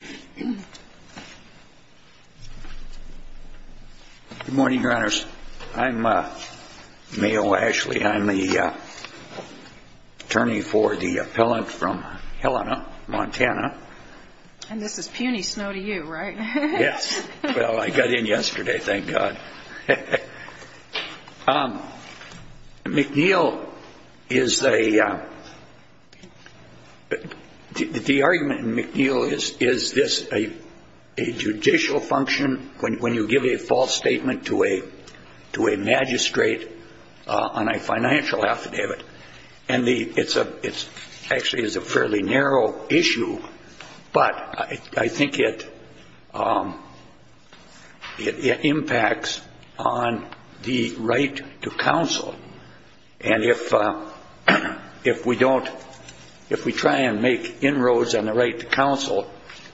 Good morning, Your Honors. I'm Mayor Ashley. I'm the attorney for the appellant from Helena, Montana. And this is puny snow to you, right? Yes. Well, I got in yesterday, thank God. McNeil is a, the argument in McNeil is, is this a judicial function when you give a false statement to a magistrate on a financial affidavit? And the, it's a, it's actually is a fairly narrow issue, but I think it, it impacts on the right to counsel. And if, if we don't, if we try and make inroads on the right to counsel,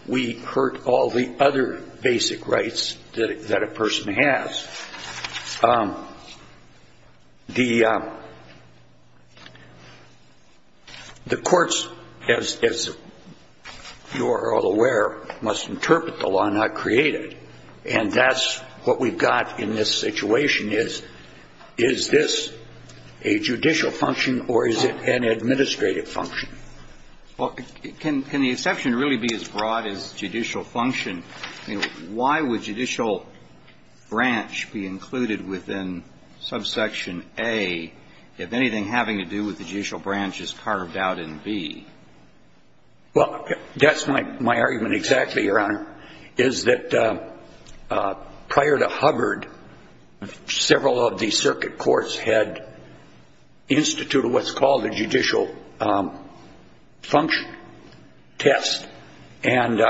we hurt all the other basic rights that a person has. The courts, as, as you are all aware, must interpret the law, not create it. And that's what we've got in this situation is, is this a judicial function or is it an administrative function? Well, can, can the exception really be as broad as judicial function? I mean, why would judicial branch be included within subsection A if anything having to do with the judicial branch is carved out in B? Well, that's my, my argument exactly, Your Honor, is that prior to Hubbard, several of the circuit courts had instituted what's called a judicial function test. And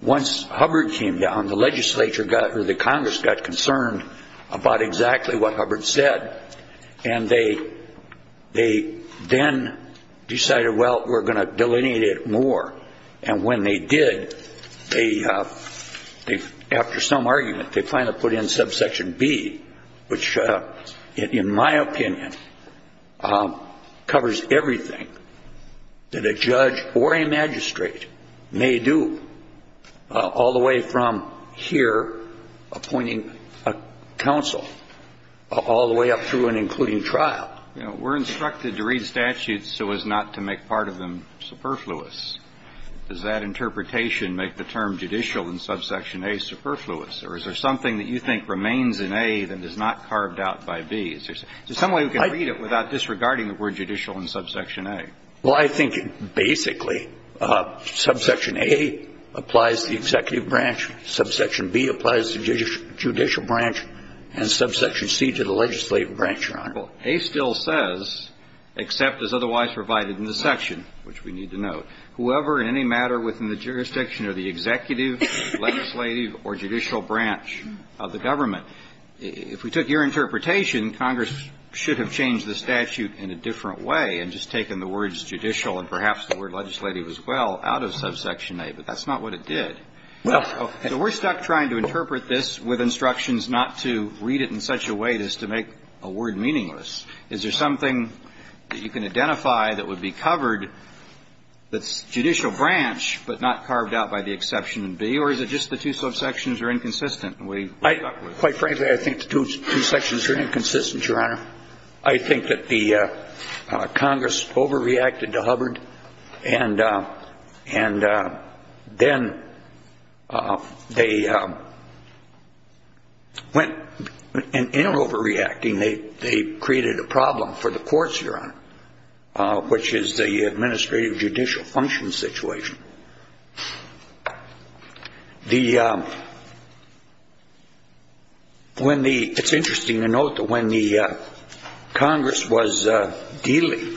once Hubbard came down, the legislature got, or the Congress got concerned about exactly what Hubbard said. And they, they then decided, well, we're going to delineate it more. And when they did, they, they, after some argument, they finally put in subsection B, which, in my opinion, covers everything that a judge or a magistrate may do, all the way from here appointing a counsel all the way up through and including trial. You know, we're instructed to read statutes so as not to make part of them superfluous. Does that interpretation make the term judicial in subsection A superfluous? Or is there something that you think remains in A that is not carved out by B? Is there some way we can read it without disregarding the word judicial in subsection A? Well, I think basically subsection A applies to the executive branch, subsection B applies to the judicial branch, and subsection C to the legislative branch, Your Honor. Well, A still says, except as otherwise provided in the section, which we need to note, whoever in any matter within the jurisdiction of the executive, legislative, or judicial branch of the government. If we took your interpretation, Congress should have changed the statute in a different way and just taken the words judicial and perhaps the word legislative as well out of subsection A. But that's not what it did. So we're stuck trying to interpret this with instructions not to read it in such a way as to make a word meaningless. Is there something that you can identify that would be covered that's judicial branch but not carved out by the exception in B? Or is it just the two subsections are inconsistent? Quite frankly, I think the two sections are inconsistent, Your Honor. I think that the Congress overreacted to Hubbard, and then they went in overreacting. They created a problem for the courts, Your Honor, which is the administrative judicial function situation. It's interesting to note that when the Congress was dealing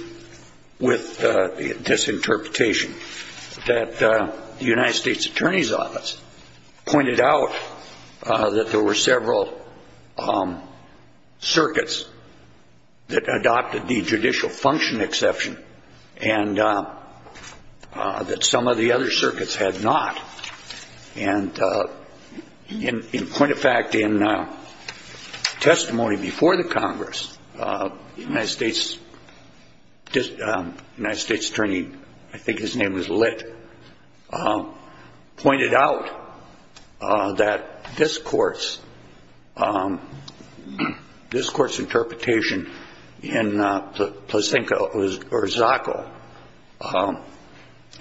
with this interpretation, that the United States Attorney's Office pointed out that there were several circuits that adopted the judicial function exception and that some of the other circuits had not. And in point of fact, in testimony before the Congress, the United States Attorney, I think his name was Lit, pointed out that this Court's interpretation in Placenca or Zacco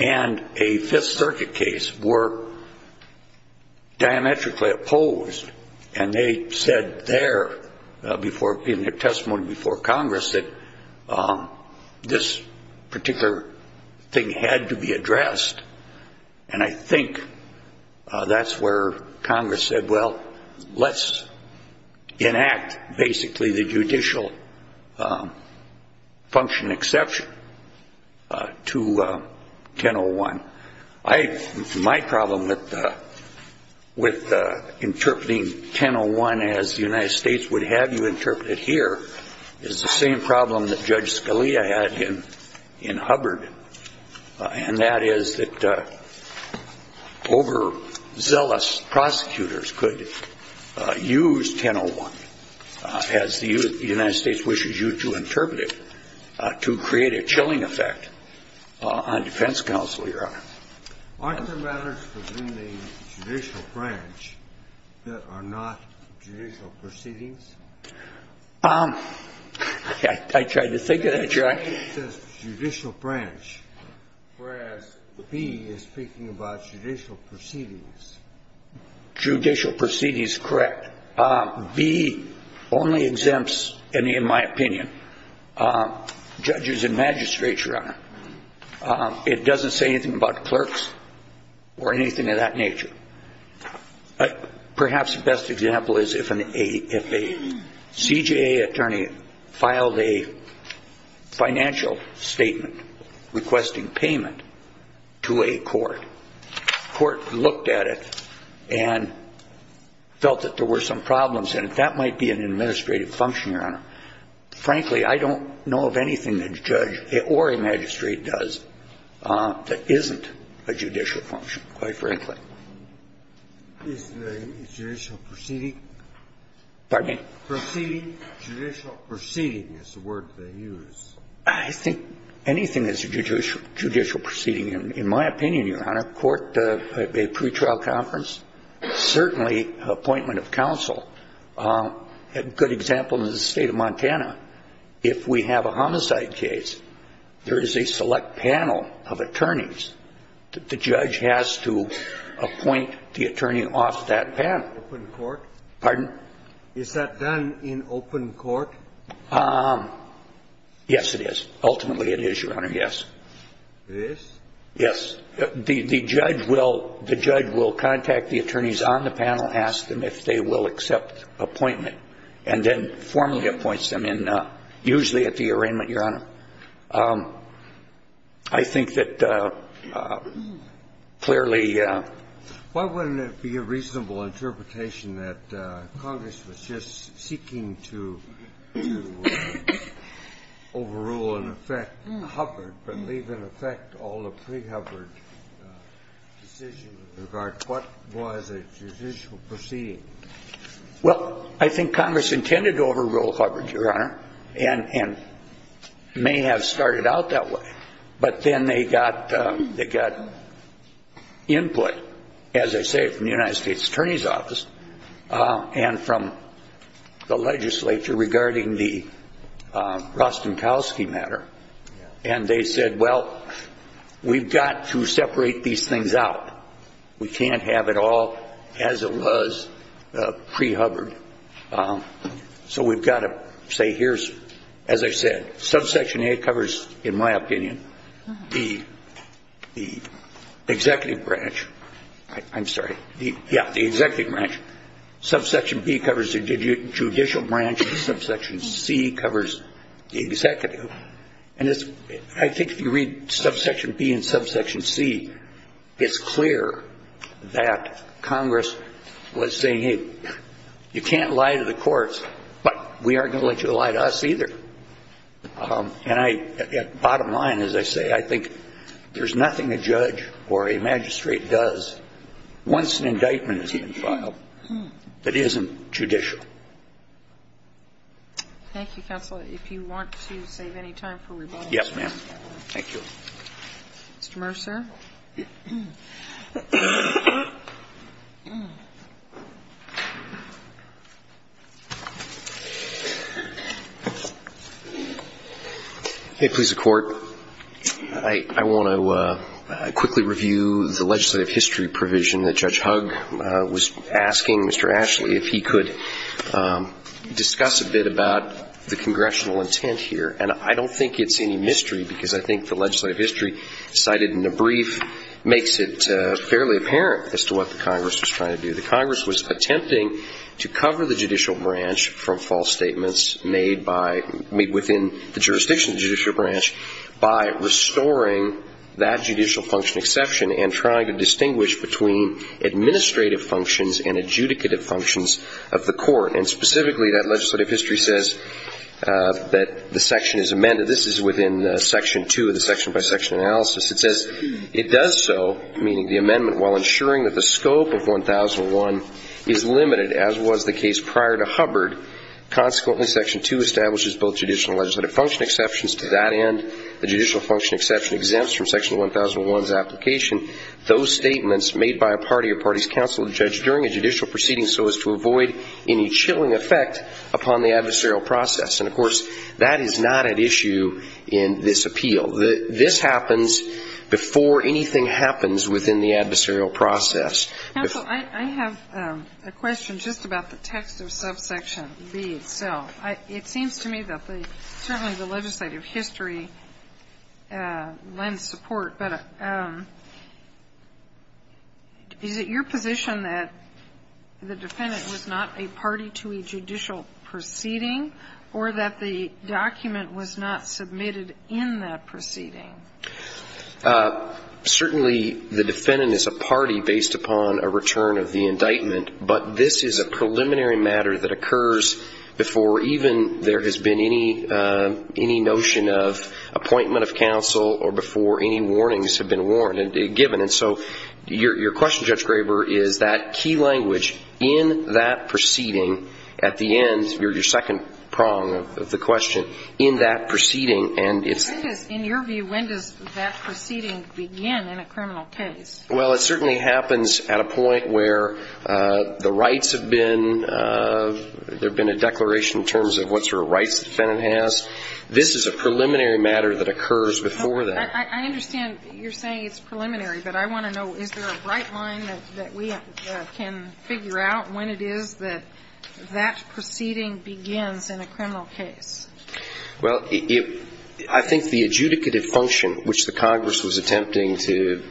and a Fifth Circuit case were diametrically opposed. And they said there in their testimony before Congress that this particular thing had to be addressed. And I think that's where Congress said, well, let's enact basically the judicial function exception to 1001. My problem with interpreting 1001 as the United States would have you interpret it here is the same problem that Judge Scalia had in Hubbard, and that is that overzealous prosecutors could use 1001 as the United States wishes you to interpret it to create a chilling effect on defense counsel, Your Honor. Aren't there matters within the judicial branch that are not judicial proceedings? I tried to think of that, Your Honor. It says judicial branch, whereas B is speaking about judicial proceedings. Judicial proceedings, correct. B only exempts, in my opinion, judges and magistrates, Your Honor. It doesn't say anything about clerks or anything of that nature. Perhaps the best example is if a CJA attorney filed a financial statement requesting payment to a court. The court looked at it and felt that there were some problems in it. That might be an administrative function, Your Honor. Frankly, I don't know of anything that a judge or a magistrate does that isn't a judicial function, quite frankly. Is the judicial proceeding? Pardon me? Proceeding. Judicial proceeding is the word they use. I think anything that's a judicial proceeding, in my opinion, Your Honor, court, a pretrial conference, certainly appointment of counsel. A good example is the state of Montana. If we have a homicide case, there is a select panel of attorneys that the judge has to appoint the attorney off that panel. Open court? Pardon? Is that done in open court? Yes, it is. Ultimately, it is, Your Honor, yes. It is? Yes. The judge will contact the attorneys on the panel, ask them if they will accept appointment, and then formally appoints them in, usually at the arraignment, Your Honor. I think that clearly ---- Why wouldn't it be a reasonable interpretation that Congress was just seeking to overrule and affect Hubbard, but leave in effect all the pre-Hubbard decisions with regard to what was a judicial proceeding? Well, I think Congress intended to overrule Hubbard, Your Honor, and may have started out that way. But then they got input, as I say, from the United States Attorney's Office and from the legislature regarding the Rostenkowski matter. And they said, well, we've got to separate these things out. We can't have it all as it was pre-Hubbard. So we've got to say here's, as I said, subsection A covers, in my opinion, the executive branch. I'm sorry. Yeah, the executive branch. Subsection B covers the judicial branch, and subsection C covers the executive. And I think if you read subsection B and subsection C, it's clear that Congress was saying, hey, you can't lie to the courts, but we aren't going to let you lie to us either. And I ---- bottom line, as I say, I think there's nothing a judge or a magistrate does once an indictment is even filed that isn't judicial. Thank you, counsel. If you want to save any time for rebuttal. Yes, ma'am. Thank you. Mr. Mercer. If it pleases the Court, I want to quickly review the legislative history provision that Judge Hugg was asking Mr. Ashley if he could discuss a bit about the congressional intent here. And I don't think it's any mystery because I think the legislative history cited in the brief makes it fairly apparent as to what the Congress was trying to do. The Congress was attempting to cover the judicial branch from false statements made by ---- made within the jurisdiction of the judicial branch by restoring that judicial function exception and trying to distinguish between administrative functions and adjudicative functions of the court. And specifically, that legislative history says that the section is amended. This is within section two of the section by section analysis. It says it does so, meaning the amendment, while ensuring that the scope of 1001 is limited, as was the case prior to Hubbard. Consequently, section two establishes both judicial and legislative function exceptions. To that end, the judicial function exception exempts from section 1001's application those statements made by a party or party's counsel or judge during a judicial proceeding so as to avoid any chilling effect upon the adversarial process. And, of course, that is not at issue in this appeal. This happens before anything happens within the adversarial process. Counsel, I have a question just about the text of subsection B itself. It seems to me that certainly the legislative history lends support. But is it your position that the defendant was not a party to a judicial proceeding or that the document was not submitted in that proceeding? Certainly the defendant is a party based upon a return of the indictment. But this is a preliminary matter that occurs before even there has been any notion of appointment of counsel or before any warnings have been given. And so your question, Judge Graber, is that key language in that proceeding, at the end, your second prong of the question, in that proceeding. In your view, when does that proceeding begin in a criminal case? Well, it certainly happens at a point where the rights have been, there have been a declaration in terms of what sort of rights the defendant has. This is a preliminary matter that occurs before that. I understand you're saying it's preliminary. But I want to know, is there a bright line that we can figure out when it is that that proceeding begins in a criminal case? Well, I think the adjudicative function, which the Congress was attempting to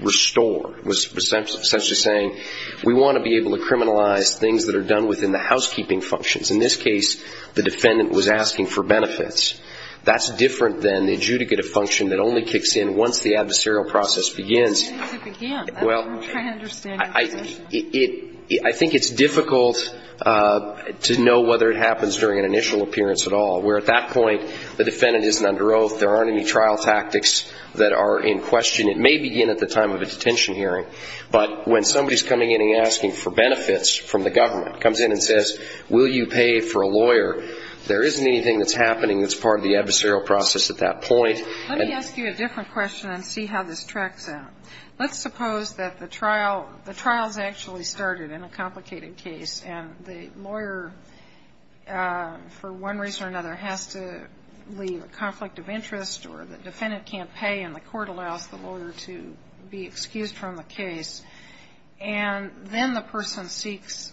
restore, was essentially saying we want to be able to criminalize things that are done within the housekeeping functions. In this case, the defendant was asking for benefits. That's different than the adjudicative function that only kicks in once the adversarial process begins. It needs to begin. I'm trying to understand your position. I think it's difficult to know whether it happens during an initial appearance at all, where at that point the defendant isn't under oath, there aren't any trial tactics that are in question. It may begin at the time of a detention hearing. But when somebody is coming in and asking for benefits from the government, comes in and says, will you pay for a lawyer, there isn't anything that's happening that's part of the adversarial process at that point. Let me ask you a different question and see how this tracks out. Let's suppose that the trial has actually started in a complicated case, and the lawyer, for one reason or another, has to leave a conflict of interest or the defendant can't pay and the court allows the lawyer to be excused from the case. And then the person seeks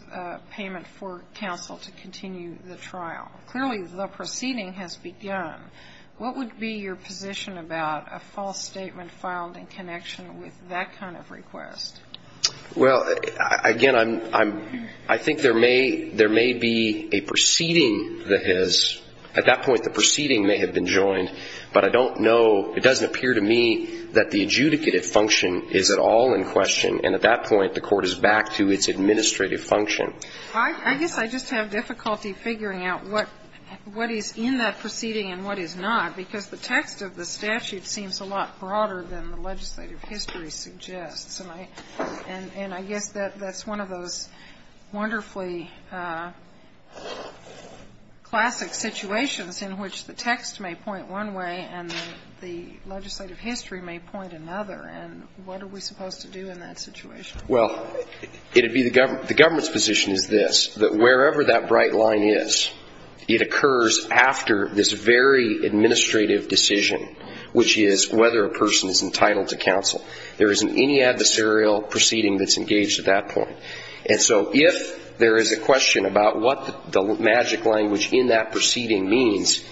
payment for counsel to continue the trial. Clearly the proceeding has begun. What would be your position about a false statement filed in connection with that kind of request? Well, again, I think there may be a proceeding that has at that point the proceeding may have been joined, but I don't know, it doesn't appear to me, that the adjudicative function is at all in question, and at that point the court is back to its administrative function. I guess I just have difficulty figuring out what is in that proceeding and what is not, because the text of the statute seems a lot broader than the legislative history suggests. And I guess that's one of those wonderfully classic situations in which the text may point one way and the legislative history may point another. And what are we supposed to do in that situation? Well, the government's position is this, that wherever that bright line is, it occurs after this very administrative decision, which is whether a person is entitled to counsel. There isn't any adversarial proceeding that's engaged at that point. And so if there is a question about what the magic language in that proceeding means,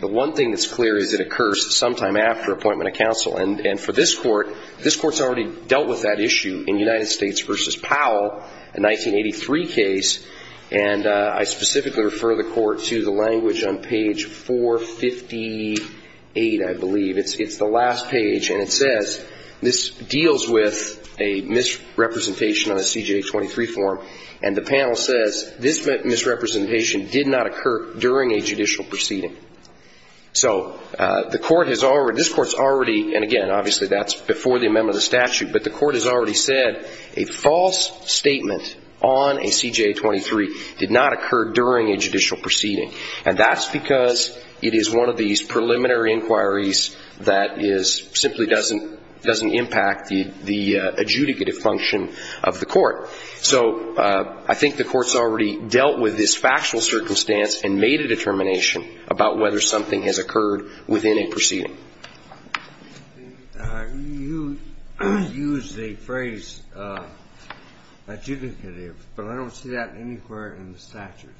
the one thing that's clear is it occurs sometime after appointment of counsel. And for this Court, this Court's already dealt with that issue in United States v. Powell, a 1983 case, and I specifically refer the Court to the language on page 458, I believe. It's the last page, and it says this deals with a misrepresentation on a CJA 23 form, and the panel says this misrepresentation did not occur during a judicial proceeding. So this Court's already, and again, obviously that's before the amendment of the statute, but the Court has already said a false statement on a CJA 23 did not occur during a judicial proceeding. And that's because it is one of these preliminary inquiries that simply doesn't impact the adjudicative function of the Court. So I think the Court's already dealt with this factual circumstance and made a determination about whether something has occurred within a proceeding. You used the phrase adjudicative, but I don't see that anywhere in the statute.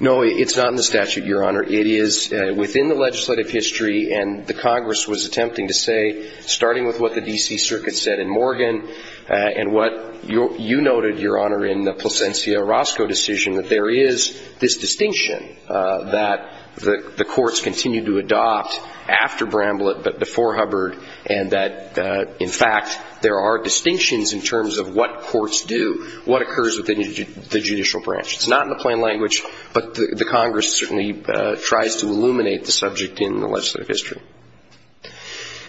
No, it's not in the statute, Your Honor. It is within the legislative history, and the Congress was attempting to say, starting with what the D.C. Circuit said in Morgan and what you noted, Your Honor, in the Plasencia-Roscoe decision, that there is this distinction that the courts continue to adopt after Bramblett but before Hubbard, and that, in fact, there are distinctions in terms of what courts do, what occurs within the judicial branch. It's not in the plain language, but the Congress certainly tries to illuminate the subject in the legislative history.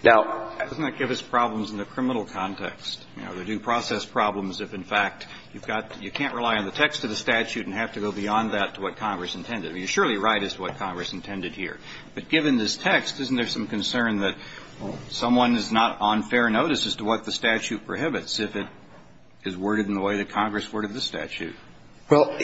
Now, doesn't that give us problems in the criminal context? You know, the due process problems if, in fact, you've got to – you can't rely on the text of the statute and have to go beyond that to what Congress intended. I mean, you're surely right as to what Congress intended here. But given this text, isn't there some concern that someone is not on fair notice as to what the statute prohibits if it is worded in the way that Congress worded the statute? Well,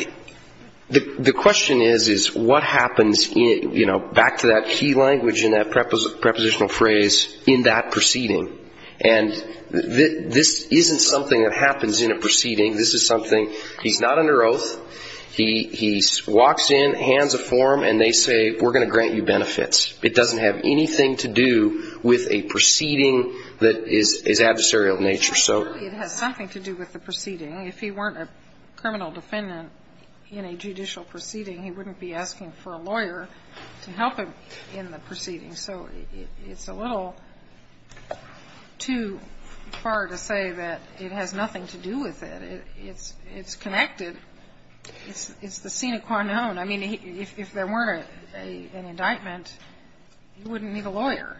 the question is, is what happens, you know, back to that key language in that prepositional phrase, in that proceeding? And this isn't something that happens in a proceeding. This is something – he's not under oath. He walks in, hands a form, and they say, we're going to grant you benefits. It doesn't have anything to do with a proceeding that is adversarial in nature. It has something to do with the proceeding. If he weren't a criminal defendant in a judicial proceeding, he wouldn't be asking for a lawyer to help him in the proceeding. So it's a little too far to say that it has nothing to do with it. It's connected. It's the sine qua non. I mean, if there weren't an indictment, he wouldn't need a lawyer.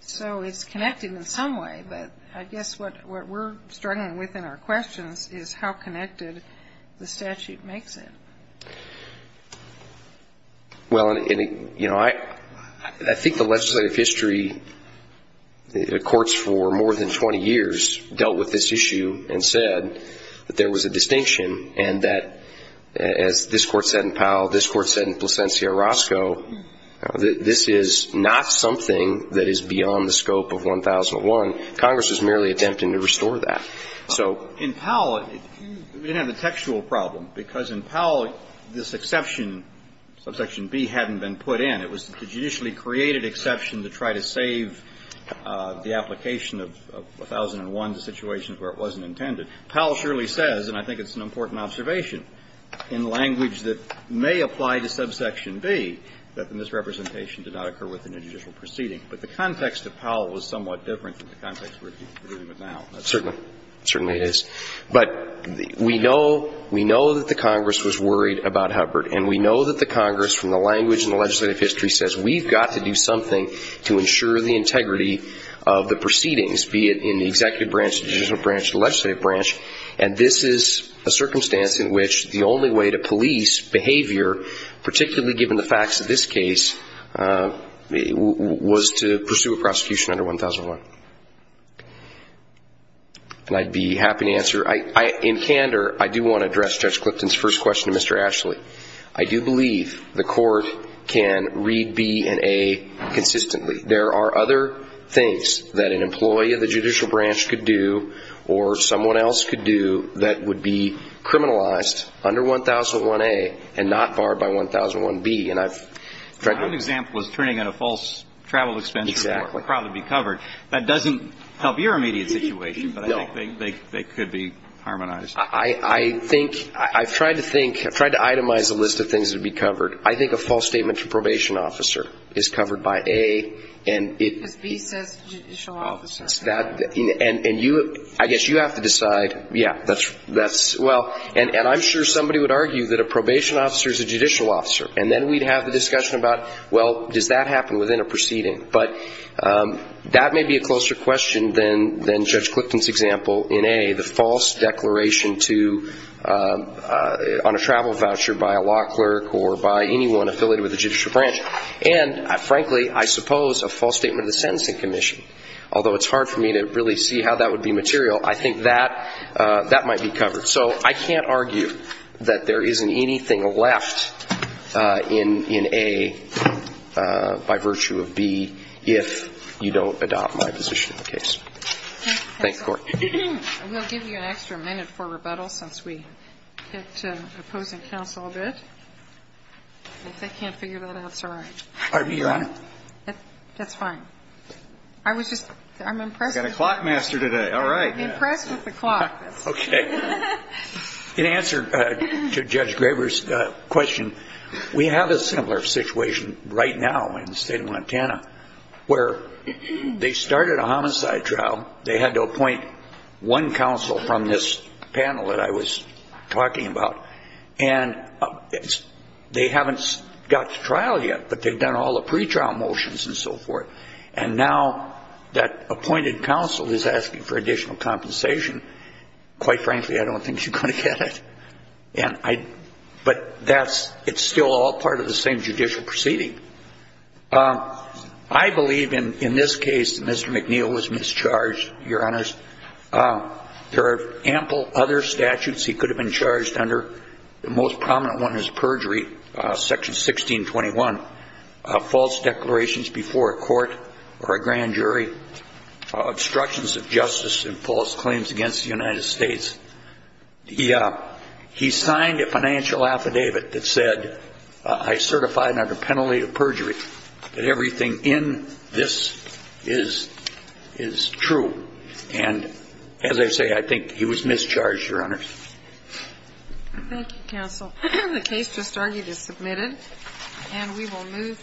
So it's connected in some way. But I guess what we're struggling with in our questions is how connected the statute makes it. Well, you know, I think the legislative history courts for more than 20 years dealt with this issue and said that there was a distinction, and that, as this Court said in Powell, this Court said in Plasencia-Roscoe, that this is not something that is beyond the scope of 1001. Congress is merely attempting to restore that. So – In Powell, we didn't have a textual problem, because in Powell, this exception, subsection B, hadn't been put in. It was the judicially created exception to try to save the application of 1001, the situation where it wasn't intended. And Powell surely says, and I think it's an important observation, in language that may apply to subsection B, that the misrepresentation did not occur within a judicial proceeding. But the context of Powell was somewhat different from the context we're dealing with now. Certainly. Certainly it is. But we know that the Congress was worried about Hubbard, and we know that the Congress, from the language in the legislative history, says we've got to do something to ensure the integrity of the proceedings, be it in the executive branch, the judicial branch, and this is a circumstance in which the only way to police behavior, particularly given the facts of this case, was to pursue a prosecution under 1001. And I'd be happy to answer. In candor, I do want to address Judge Clifton's first question to Mr. Ashley. I do believe the court can read B and A consistently. There are other things that an employee of the judicial branch could do, or someone else could do, that would be criminalized under 1001A and not barred by 1001B. And I've tried to do that. My own example is turning in a false travel expense report. Exactly. That would probably be covered. That doesn't help your immediate situation. No. But I think they could be harmonized. I think, I've tried to think, I've tried to itemize a list of things that would be covered. I think a false statement from probation officer is covered by A, and it. Because B says judicial officer. And I guess you have to decide, yeah, that's, well. And I'm sure somebody would argue that a probation officer is a judicial officer. And then we'd have the discussion about, well, does that happen within a proceeding? But that may be a closer question than Judge Clifton's example in A, the false declaration to, on a travel voucher by a law clerk or by anyone affiliated with the judicial branch. And, frankly, I suppose a false statement of the sentencing commission. Although it's hard for me to really see how that would be material, I think that might be covered. So I can't argue that there isn't anything left in A by virtue of B if you don't adopt my position in the case. Thanks, Court. We'll give you an extra minute for rebuttal since we get to opposing counsel a bit. If they can't figure that out, it's all right. Your Honor. That's fine. I was just, I'm impressed. We've got a clock master today. All right. I'm impressed with the clock. Okay. In answer to Judge Graber's question, we have a similar situation right now in the state of Montana where they started a homicide trial. They had to appoint one counsel from this panel that I was talking about. And they haven't got to trial yet, but they've done all the pretrial motions and so forth. And now that appointed counsel is asking for additional compensation. Quite frankly, I don't think you're going to get it. But that's, it's still all part of the same judicial proceeding. I believe in this case that Mr. McNeil was mischarged, Your Honors. There are ample other statutes he could have been charged under. The most prominent one is perjury, Section 1621. False declarations before a court or a grand jury. Obstructions of justice and false claims against the United States. He signed a financial affidavit that said, I certify under penalty of perjury that everything in this is true. And as I say, I think he was mischarged, Your Honors. Thank you, counsel. The case just argued is submitted. And we will move.